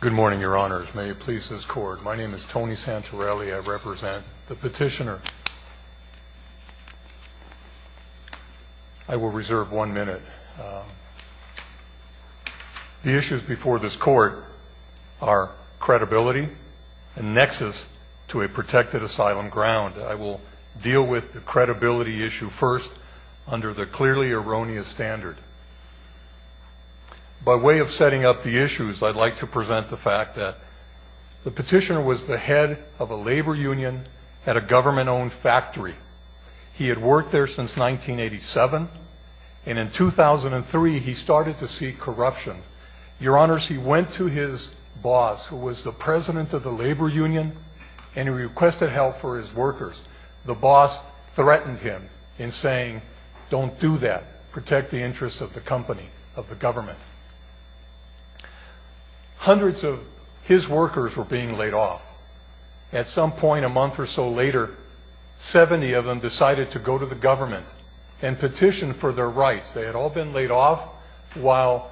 Good morning, your honors. May it please this court. My name is Tony Santorelli. I represent the petitioner. I will reserve one minute. The issues before this court are credibility and nexus to a protected asylum ground. I will deal with the credibility issue first under the clearly erroneous standard. By way of setting up the issues, I'd like to present the fact that the petitioner was the head of a labor union at a government-owned factory. He had worked there since 1987, and in 2003, he started to see corruption. Your honors, he went to his boss, who was the president of the labor union, and he requested help for his workers. The boss threatened him in saying, don't do that. Protect the interests of the company, of the government. Hundreds of his workers were being laid off. At some point a month or so later, 70 of them decided to go to the government and petition for their rights. They had all been laid off while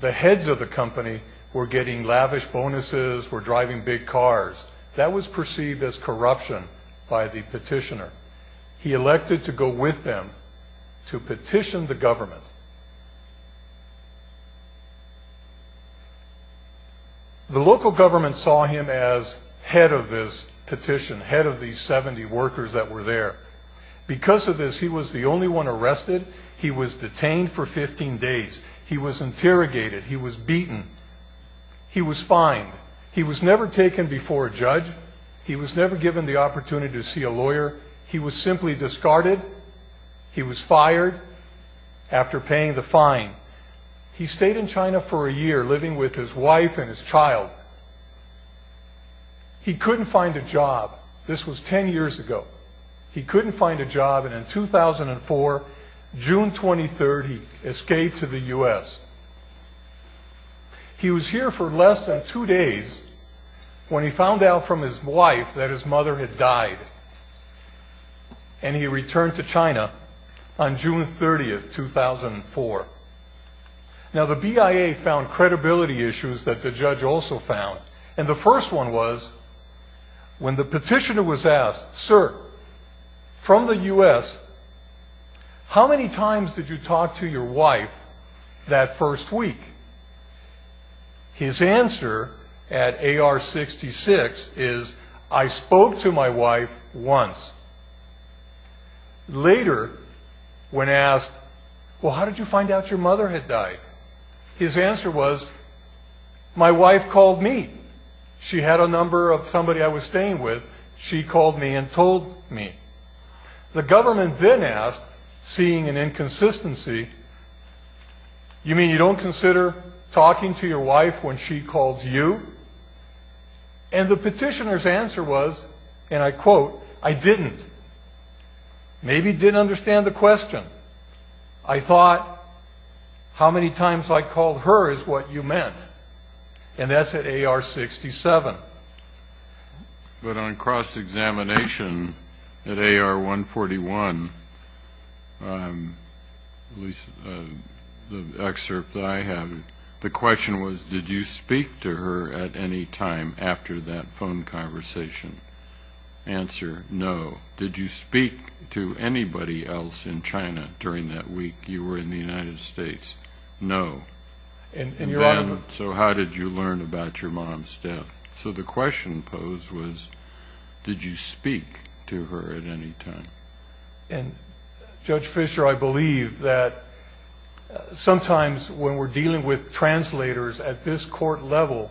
the heads of the company were getting lavish bonuses, were driving big cars. That was perceived as corruption by the petitioner. He elected to go with them to petition the government. The local government saw him as head of this petition, head of these 70 workers that were there. Because of this, he was the only one arrested. He was detained for 15 days. He was interrogated. He was beaten. He was fined. He was never taken before a judge. He was never given the opportunity to see a lawyer. He was simply discarded. He was fired after paying the fine. He stayed in China for a year, living with his wife and his child. He couldn't find a job. This was 10 years ago. He couldn't find a job, and in 2004, June 23rd, he escaped to the U.S. He was here for less than two days when he found out from his wife that his mother had died. And he returned to China on June 30th, 2004. Now the BIA found credibility issues that the judge also found. And the first one was when the petitioner was asked, Sir, from the U.S., how many times did you talk to your wife that first week? His answer at AR-66 is, I spoke to my wife once. Later, when asked, well, how did you find out your mother had died? His answer was, my wife called me. She had a number of somebody I was staying with. She called me and told me. The government then asked, seeing an inconsistency, you mean you don't consider talking to your wife when she calls you? And the petitioner's answer was, and I quote, I didn't. Maybe didn't understand the question. I thought, how many times I called her is what you meant. And that's at AR-67. But on cross-examination at AR-141, the excerpt that I have, the question was, did you speak to her at any time after that phone conversation? Answer, no. Did you speak to anybody else in China during that week? You were in the United States. No. So how did you learn about your mom's death? So the question posed was, did you speak to her at any time? And, Judge Fischer, I believe that sometimes when we're dealing with translators at this court level,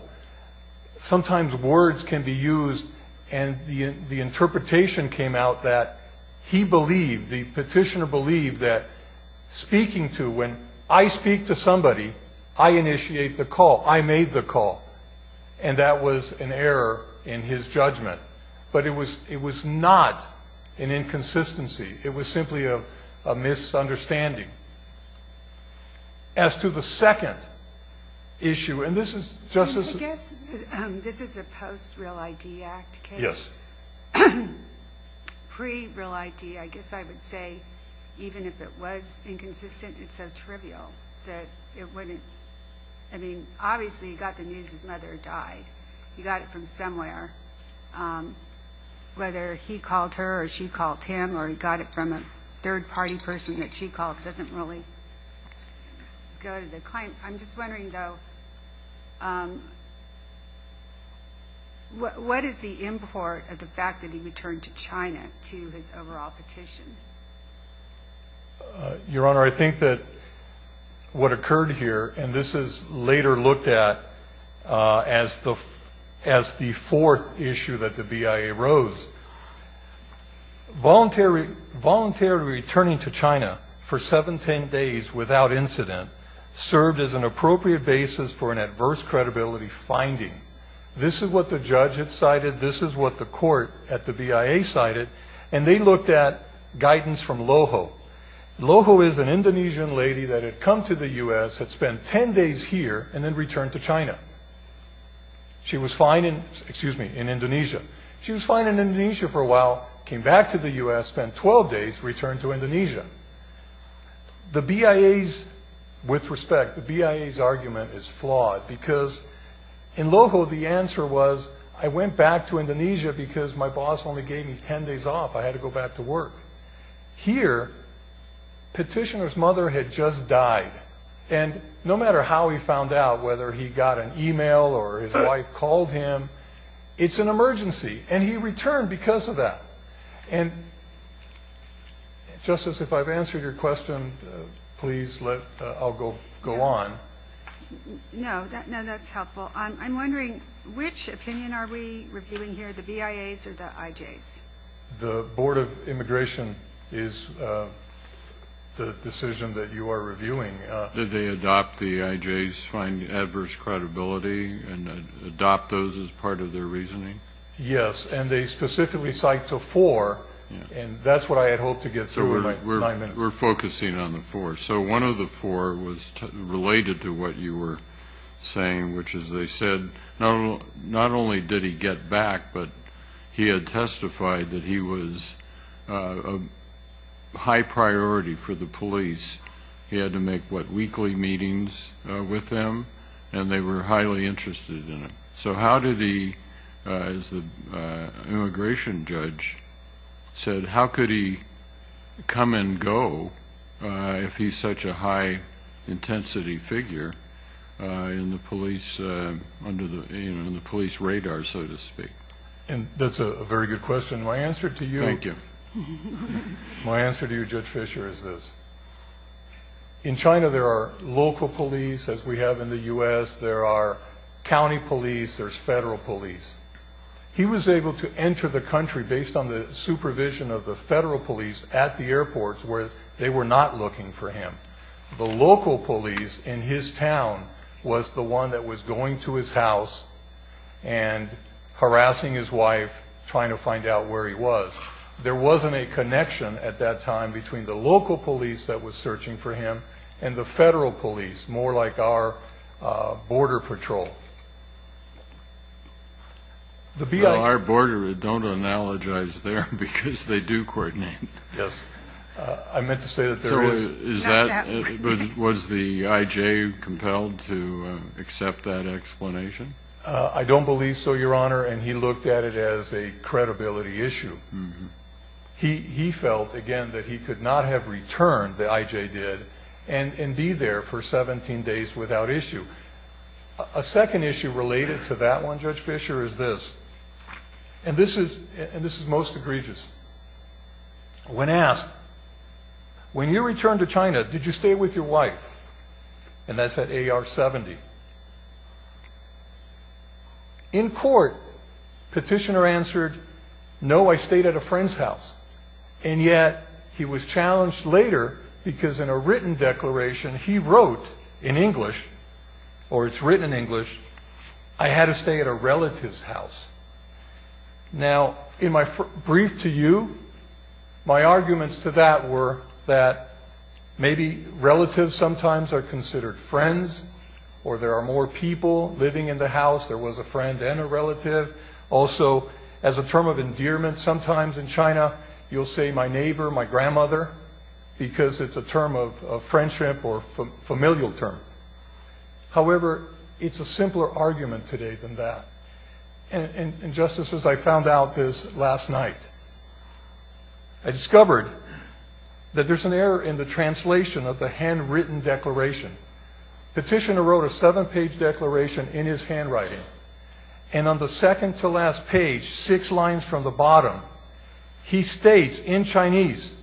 sometimes words can be used and the interpretation came out that he believed, the petitioner believed that speaking to, when I speak to somebody, I initiate the call. I made the call. And that was an error in his judgment. But it was not an inconsistency. It was simply a misunderstanding. As to the second issue, and this is Justice ---- I guess this is a post-Real ID Act case. Yes. Pre-Real ID, I guess I would say, even if it was inconsistent, it's so trivial that it wouldn't ---- I mean, obviously he got the news his mother died. He got it from somewhere. Whether he called her or she called him or he got it from a third-party person that she called doesn't really go to the claim. I'm just wondering, though, what is the import of the fact that he returned to China to his overall petition? Your Honor, I think that what occurred here, and this is later looked at as the fourth issue that the BIA rose, voluntary returning to China for 7, 10 days without incident served as an appropriate basis for an adverse credibility finding. This is what the judge had cited. This is what the court at the BIA cited. And they looked at guidance from LOHO. LOHO is an Indonesian lady that had come to the U.S., had spent 10 days here, and then returned to China. She was fine in Indonesia for a while, came back to the U.S., spent 12 days, returned to Indonesia. The BIA's, with respect, the BIA's argument is flawed because in LOHO the answer was, I went back to Indonesia because my boss only gave me 10 days off. I had to go back to work. Here, petitioner's mother had just died. And no matter how he found out, whether he got an e-mail or his wife called him, it's an emergency. And he returned because of that. And, Justice, if I've answered your question, please let, I'll go on. No, that's helpful. I'm wondering, which opinion are we reviewing here, the BIA's or the IJ's? The Board of Immigration is the decision that you are reviewing. Did they adopt the IJ's, find adverse credibility, and adopt those as part of their reasoning? Yes. And they specifically cite the four. And that's what I had hoped to get through in my nine minutes. We're focusing on the four. So one of the four was related to what you were saying, which is they said not only did he get back, but he had testified that he was a high priority for the police. He had to make, what, weekly meetings with them, and they were highly interested in it. So how did he, as the immigration judge said, how could he come and go if he's such a high-intensity figure in the police radar, so to speak? And that's a very good question. My answer to you, Judge Fischer, is this. In China there are local police, as we have in the U.S. There are county police. There's federal police. He was able to enter the country based on the supervision of the federal police at the airports where they were not looking for him. The local police in his town was the one that was going to his house and harassing his wife, trying to find out where he was. There wasn't a connection at that time between the local police that was searching for him and the federal police, more like our border patrol. Our border, don't analogize there because they do coordinate. Yes. I meant to say that there is. Was the I.J. compelled to accept that explanation? I don't believe so, Your Honor, and he looked at it as a credibility issue. He felt, again, that he could not have returned, the I.J. did, and be there for 17 days without issue. A second issue related to that one, Judge Fischer, is this, and this is most egregious. When asked, when you returned to China, did you stay with your wife? And that's at A.R. 70. In court, petitioner answered, no, I stayed at a friend's house, and yet he was challenged later because in a written declaration he wrote in English, or it's written in English, I had to stay at a relative's house. Now, in my brief to you, my arguments to that were that maybe relatives sometimes are considered friends or there are more people living in the house, there was a friend and a relative. Also, as a term of endearment, sometimes in China you'll say my neighbor, my grandmother, because it's a term of friendship or a familial term. However, it's a simpler argument today than that. And, Justices, I found out this last night. I discovered that there's an error in the translation of the handwritten declaration. Petitioner wrote a seven-page declaration in his handwriting, and on the second to last page, six lines from the bottom, he states in Chinese,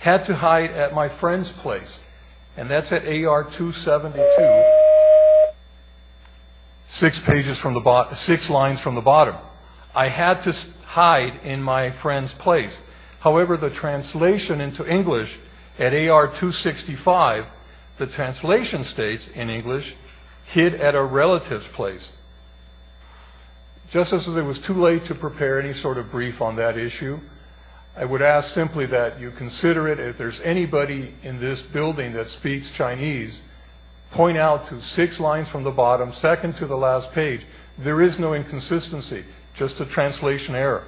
had to hide at my friend's place, and that's at A.R. 272, six lines from the bottom. I had to hide in my friend's place. However, the translation into English at A.R. 265, the translation states in English, hid at a relative's place. Justices, it was too late to prepare any sort of brief on that issue. I would ask simply that you consider it. If there's anybody in this building that speaks Chinese, point out to six lines from the bottom, second to the last page. There is no inconsistency, just a translation error.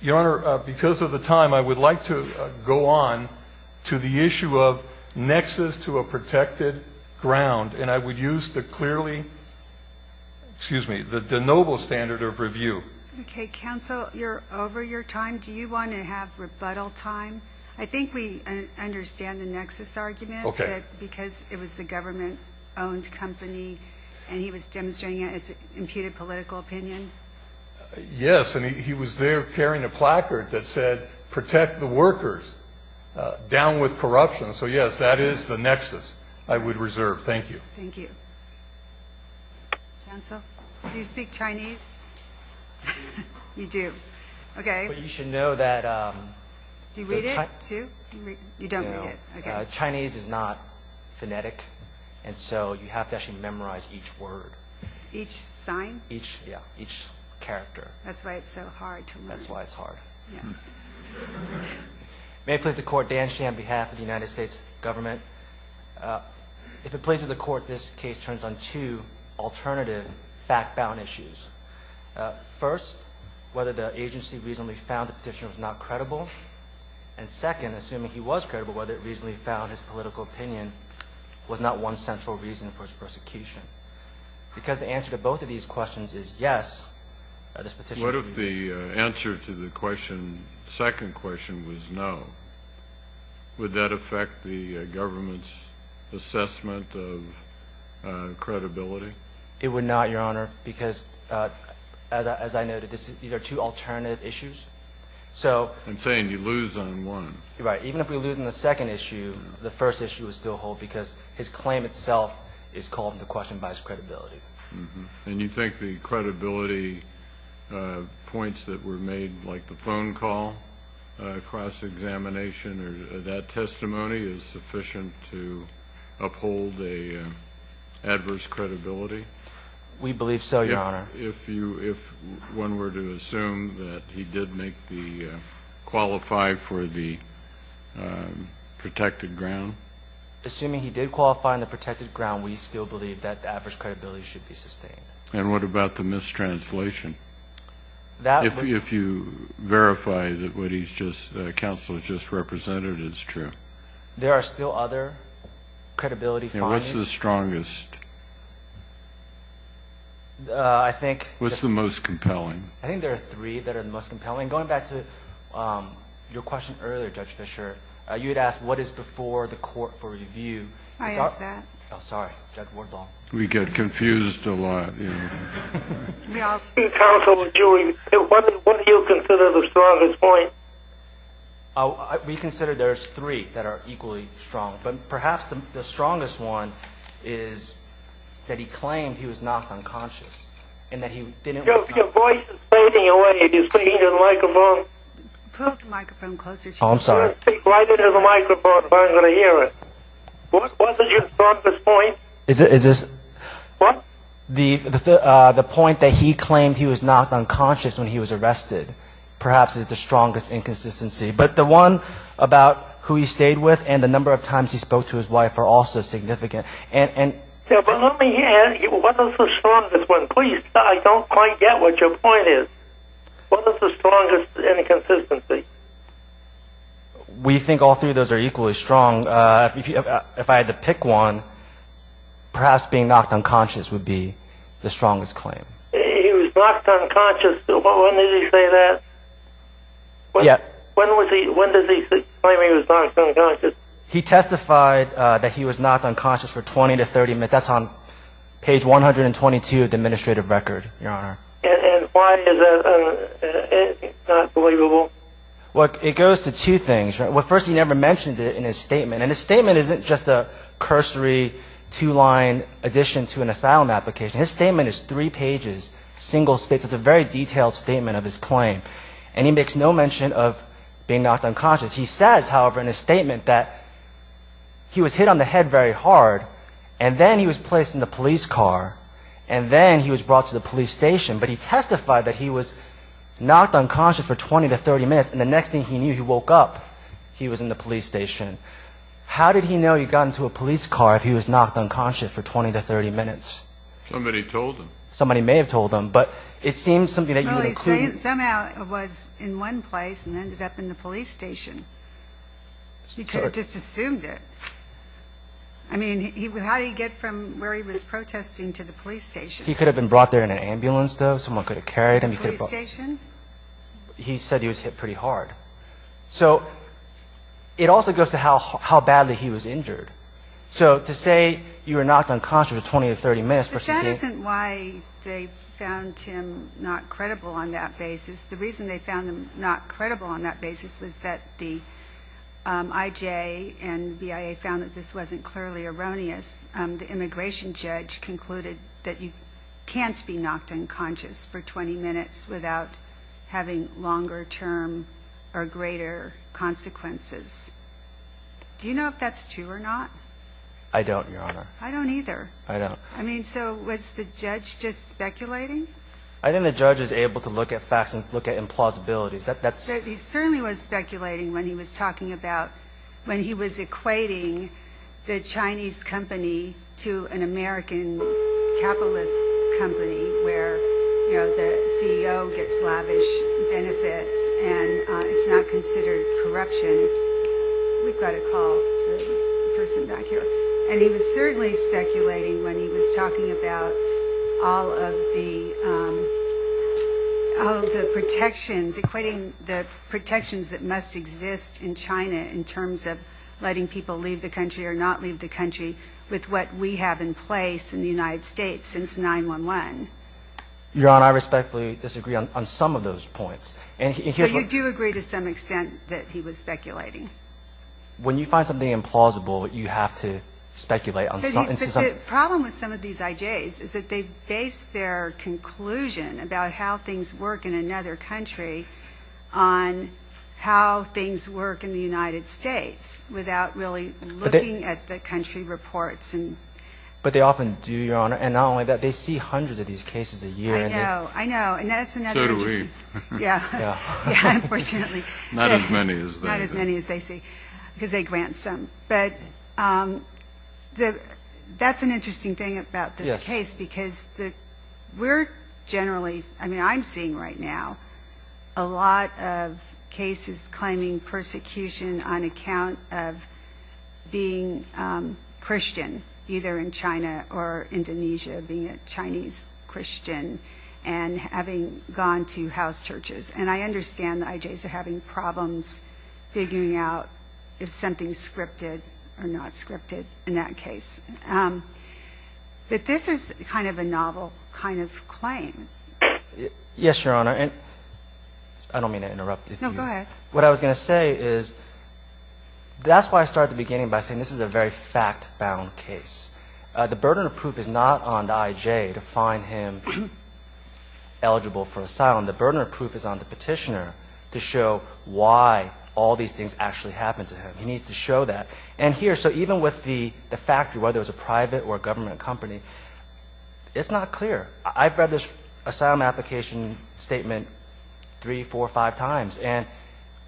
Your Honor, because of the time, I would like to go on to the issue of nexus to a protected ground, and I would use the clearly, excuse me, the noble standard of review. Okay. Counsel, you're over your time. Do you want to have rebuttal time? I think we understand the nexus argument. Okay. You said because it was the government-owned company, and he was demonstrating it as an imputed political opinion? Yes, and he was there carrying a placard that said, protect the workers, down with corruption. So, yes, that is the nexus I would reserve. Thank you. Thank you. Counsel, do you speak Chinese? You do. Okay. But you should know that the Chinese. Do you read it too? You don't read it. Okay. Chinese is not phonetic, and so you have to actually memorize each word. Each sign? Yeah, each character. That's why it's so hard to learn. That's why it's hard. Yes. May it please the Court, Dan Shih on behalf of the United States Government. If it pleases the Court, this case turns on two alternative fact-bound issues. First, whether the agency reasonably found the petitioner was not credible, and second, assuming he was credible, whether it reasonably found his political opinion was not one central reason for his persecution. Because the answer to both of these questions is yes, this petitioner. What if the answer to the second question was no? Would that affect the government's assessment of credibility? It would not, Your Honor, because, as I noted, these are two alternative issues. I'm saying you lose on one. Right. Even if we lose on the second issue, the first issue is still whole because his claim itself is called into question by his credibility. And you think the credibility points that were made, like the phone call, cross-examination, or that testimony, is sufficient to uphold an adverse credibility? We believe so, Your Honor. If one were to assume that he did qualify for the protected ground? Assuming he did qualify on the protected ground, we still believe that the adverse credibility should be sustained. And what about the mistranslation? If you verify that what counsel has just represented, it's true? There are still other credibility findings. And what's the strongest? I think there are three that are the most compelling. Going back to your question earlier, Judge Fischer, you had asked what is before the court for review. I asked that. I'm sorry, Judge Wardlaw. We get confused a lot. Counsel, what do you consider the strongest point? We consider there's three that are equally strong. But perhaps the strongest one is that he claimed he was knocked unconscious and that he didn't wake up. Your voice is fading away. Can you speak into the microphone? Pull the microphone closer to you. Oh, I'm sorry. Speak right into the microphone if I'm going to hear it. What is your strongest point? Is this? What? The point that he claimed he was knocked unconscious when he was arrested, perhaps is the strongest inconsistency. But the one about who he stayed with and the number of times he spoke to his wife are also significant. But let me ask you, what is the strongest one? Please, I don't quite get what your point is. What is the strongest inconsistency? We think all three of those are equally strong. If I had to pick one, perhaps being knocked unconscious would be the strongest claim. He was knocked unconscious. When did he say that? When did he say he was knocked unconscious? He testified that he was knocked unconscious for 20 to 30 minutes. That's on page 122 of the administrative record, Your Honor. And why is that not believable? Well, it goes to two things. First, he never mentioned it in his statement. And his statement isn't just a cursory two-line addition to an asylum application. His statement is three pages, single-spaced. It's a very detailed statement of his claim. And he makes no mention of being knocked unconscious. He says, however, in his statement that he was hit on the head very hard and then he was placed in the police car and then he was brought to the police station. But he testified that he was knocked unconscious for 20 to 30 minutes, and the next thing he knew, he woke up. He was in the police station. How did he know he got into a police car if he was knocked unconscious for 20 to 30 minutes? Somebody told him. Somebody may have told him, but it seems something that you would include. Somehow he was in one place and ended up in the police station. He could have just assumed it. I mean, how did he get from where he was protesting to the police station? He could have been brought there in an ambulance, though. Someone could have carried him. Police station? He said he was hit pretty hard. So it also goes to how badly he was injured. So to say you were knocked unconscious for 20 to 30 minutes versus being hit. That isn't why they found him not credible on that basis. The reason they found him not credible on that basis was that the IJ and BIA found that this wasn't clearly erroneous. The immigration judge concluded that you can't be knocked unconscious for 20 minutes without having longer-term or greater consequences. Do you know if that's true or not? I don't, Your Honor. I don't either. I don't. I mean, so was the judge just speculating? I think the judge was able to look at facts and look at implausibilities. He certainly was speculating when he was talking about when he was equating the Chinese company to an American capitalist company where, you know, the CEO gets lavish benefits and it's not considered corruption. We've got to call the person back here. And he was certainly speculating when he was talking about all of the protections, equating the protections that must exist in China in terms of letting people leave the country or not leave the country with what we have in place in the United States since 9-1-1. Your Honor, I respectfully disagree on some of those points. But you do agree to some extent that he was speculating. When you find something implausible, you have to speculate. But the problem with some of these IJs is that they base their conclusion about how things work in another country on how things work in the United States without really looking at the country reports. But they often do, Your Honor. And not only that, they see hundreds of these cases a year. I know. I know. And that's another interest. So do we. Yeah. Yeah, unfortunately. Not as many as they do. Not as many as they see because they grant some. But that's an interesting thing about this case because we're generally – I mean, I'm seeing right now a lot of cases claiming persecution on account of being Christian, either in China or Indonesia, being a Chinese Christian and having gone to house churches. And I understand the IJs are having problems figuring out if something's scripted or not scripted in that case. But this is kind of a novel kind of claim. Yes, Your Honor. I don't mean to interrupt. No, go ahead. What I was going to say is that's why I started at the beginning by saying this is a very fact-bound case. The burden of proof is not on the IJ to find him eligible for asylum. The burden of proof is on the petitioner to show why all these things actually happen to him. He needs to show that. And here, so even with the factory, whether it's a private or a government company, it's not clear. I've read this asylum application statement three, four, five times. And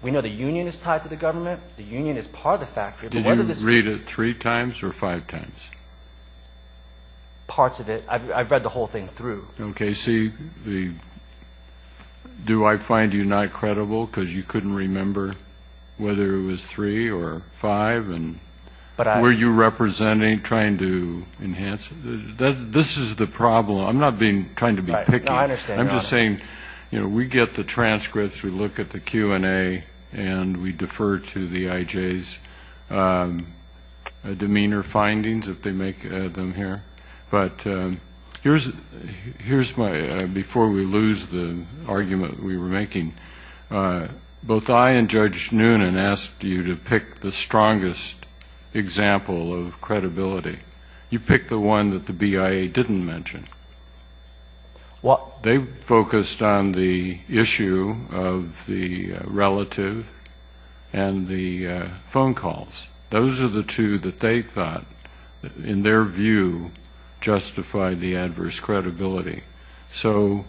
we know the union is tied to the government. The union is part of the factory. Did you read it three times or five times? Parts of it. I've read the whole thing through. Okay, see, do I find you not credible because you couldn't remember whether it was three or five? Were you representing, trying to enhance it? This is the problem. I'm not trying to be picky. No, I understand, Your Honor. I'm just saying, you know, we get the transcripts, we look at the Q&A, and we defer to the IJ's demeanor findings if they make them here. But here's my, before we lose the argument that we were making, both I and Judge Noonan asked you to pick the strongest example of credibility. You picked the one that the BIA didn't mention. They focused on the issue of the relative and the phone calls. Those are the two that they thought, in their view, justified the adverse credibility. So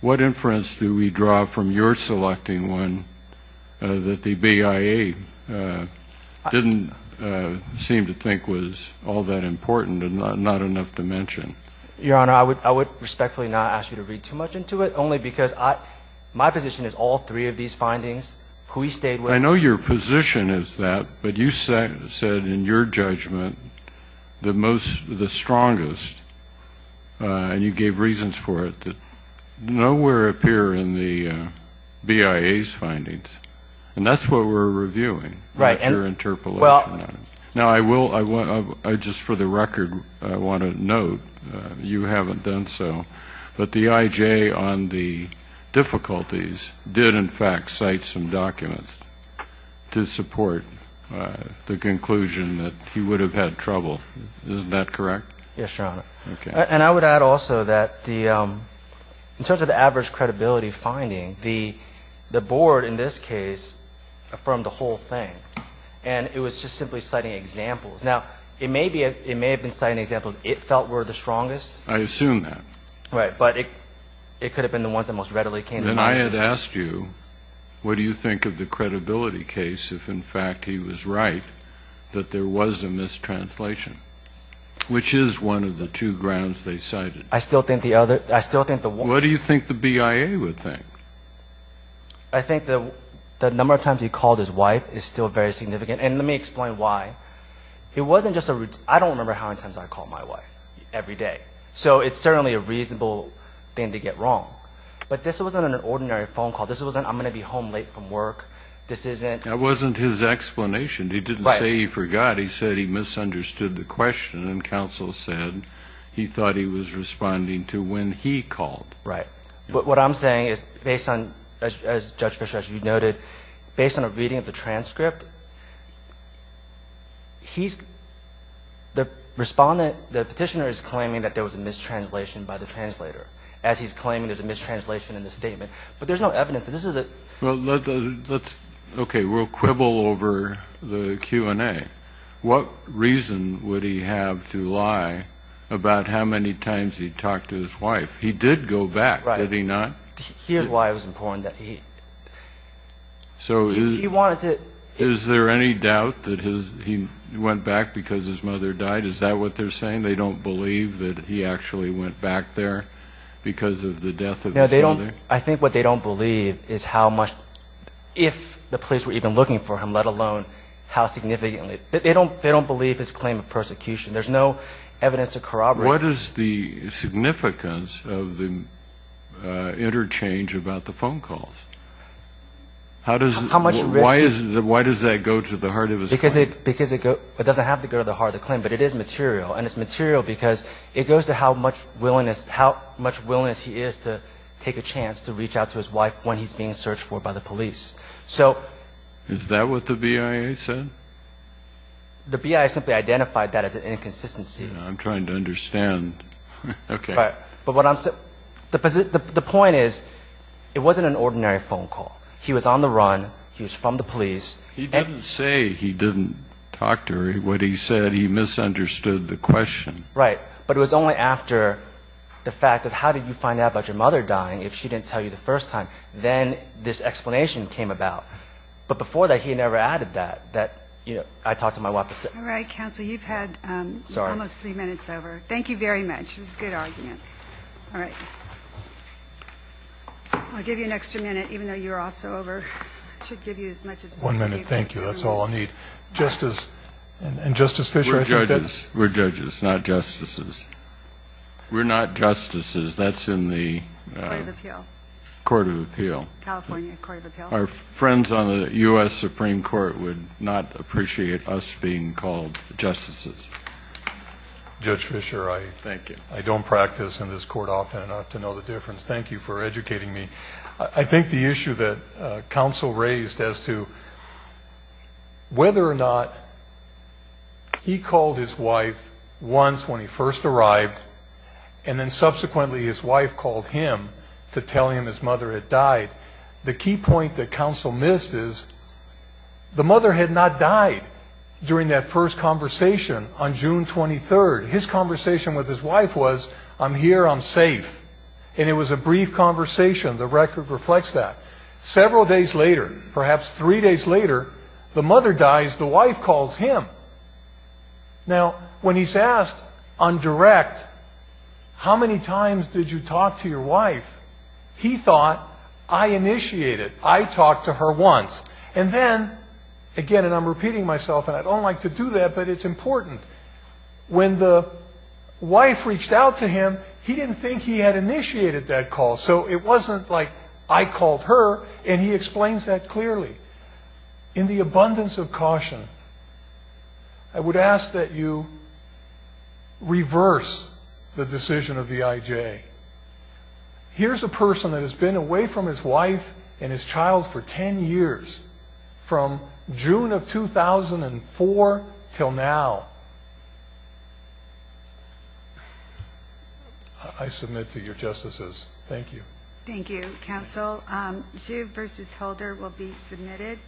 what inference do we draw from your selecting one that the BIA didn't seem to think was all that important and not enough to mention? Your Honor, I would respectfully not ask you to read too much into it, only because my position is all three of these findings, who he stayed with. But I know your position is that, but you said in your judgment the strongest, and you gave reasons for it, that nowhere appear in the BIA's findings. And that's what we're reviewing. Right. That's your interpolation on it. Now, I will, just for the record, I want to note, you haven't done so, but the IJ on the difficulties did, in fact, cite some documents to support the conclusion that he would have had trouble. Isn't that correct? Yes, Your Honor. Okay. And I would add also that the, in terms of the adverse credibility finding, the Board, in this case, affirmed the whole thing. And it was just simply citing examples. Now, it may have been citing examples it felt were the strongest. I assume that. Right. But it could have been the ones that most readily came to mind. Then I had asked you, what do you think of the credibility case if, in fact, he was right, that there was a mistranslation, which is one of the two grounds they cited. I still think the other, I still think the one. What do you think the BIA would think? I think the number of times he called his wife is still very significant. And let me explain why. It wasn't just a, I don't remember how many times I called my wife every day. So it's certainly a reasonable thing to get wrong. But this wasn't an ordinary phone call. This wasn't, I'm going to be home late from work. This isn't. That wasn't his explanation. He didn't say he forgot. He said he misunderstood the question. And counsel said he thought he was responding to when he called. Right. What I'm saying is based on, as Judge Fischer, as you noted, based on a reading of the transcript, he's, the respondent, the petitioner is claiming that there was a mistranslation by the translator as he's claiming there's a mistranslation in the statement. But there's no evidence. This is a. Well, let's, okay, we'll quibble over the Q&A. What reason would he have to lie about how many times he talked to his wife? He did go back, did he not? Here's why it was important that he. So. He wanted to. Is there any doubt that he went back because his mother died? Is that what they're saying? They don't believe that he actually went back there because of the death of his mother? No, they don't. I think what they don't believe is how much, if the police were even looking for him, let alone how significantly. They don't believe his claim of persecution. There's no evidence to corroborate. What is the significance of the interchange about the phone calls? How much risk. Why does that go to the heart of his claim? Because it doesn't have to go to the heart of the claim, but it is material. And it's material because it goes to how much willingness he is to take a chance to reach out to his wife when he's being searched for by the police. So. Is that what the BIA said? The BIA simply identified that as an inconsistency. I'm trying to understand. Okay. But what I'm saying, the point is, it wasn't an ordinary phone call. He was on the run. He was from the police. He didn't say he didn't talk to her. What he said, he misunderstood the question. Right. But it was only after the fact of how did you find out about your mother dying if she didn't tell you the first time, then this explanation came about. But before that, he never added that, that, you know, I talked to my wife. All right. Counsel, you've had almost three minutes over. Thank you very much. It was a good argument. All right. I'll give you an extra minute, even though you're also over. I should give you as much as I can. One minute. Thank you. That's all I need. Justice and Justice Fischer. We're judges. We're judges, not justices. We're not justices. That's in the Court of Appeal. California Court of Appeal. Our friends on the U.S. Supreme Court would not appreciate us being called justices. Judge Fischer, I don't practice in this court often enough to know the difference. Thank you for educating me. I think the issue that counsel raised as to whether or not he called his wife once when he first arrived and then subsequently his wife called him to tell him his mother had died, the key point that counsel missed is the mother had not died during that first conversation on June 23rd. His conversation with his wife was, I'm here, I'm safe. And it was a brief conversation. The record reflects that. Several days later, perhaps three days later, the mother dies, the wife calls him. Now, when he's asked on direct, how many times did you talk to your wife? He thought, I initiated. I talked to her once. And then, again, and I'm repeating myself, and I don't like to do that, but it's important. When the wife reached out to him, he didn't think he had initiated that call. So it wasn't like I called her, and he explains that clearly. In the abundance of caution, I would ask that you reverse the decision of the IJ. Here's a person that has been away from his wife and his child for 10 years, from June of 2004 until now. I submit to your justices. Thank you. Thank you, counsel. Juve versus Holder will be submitted.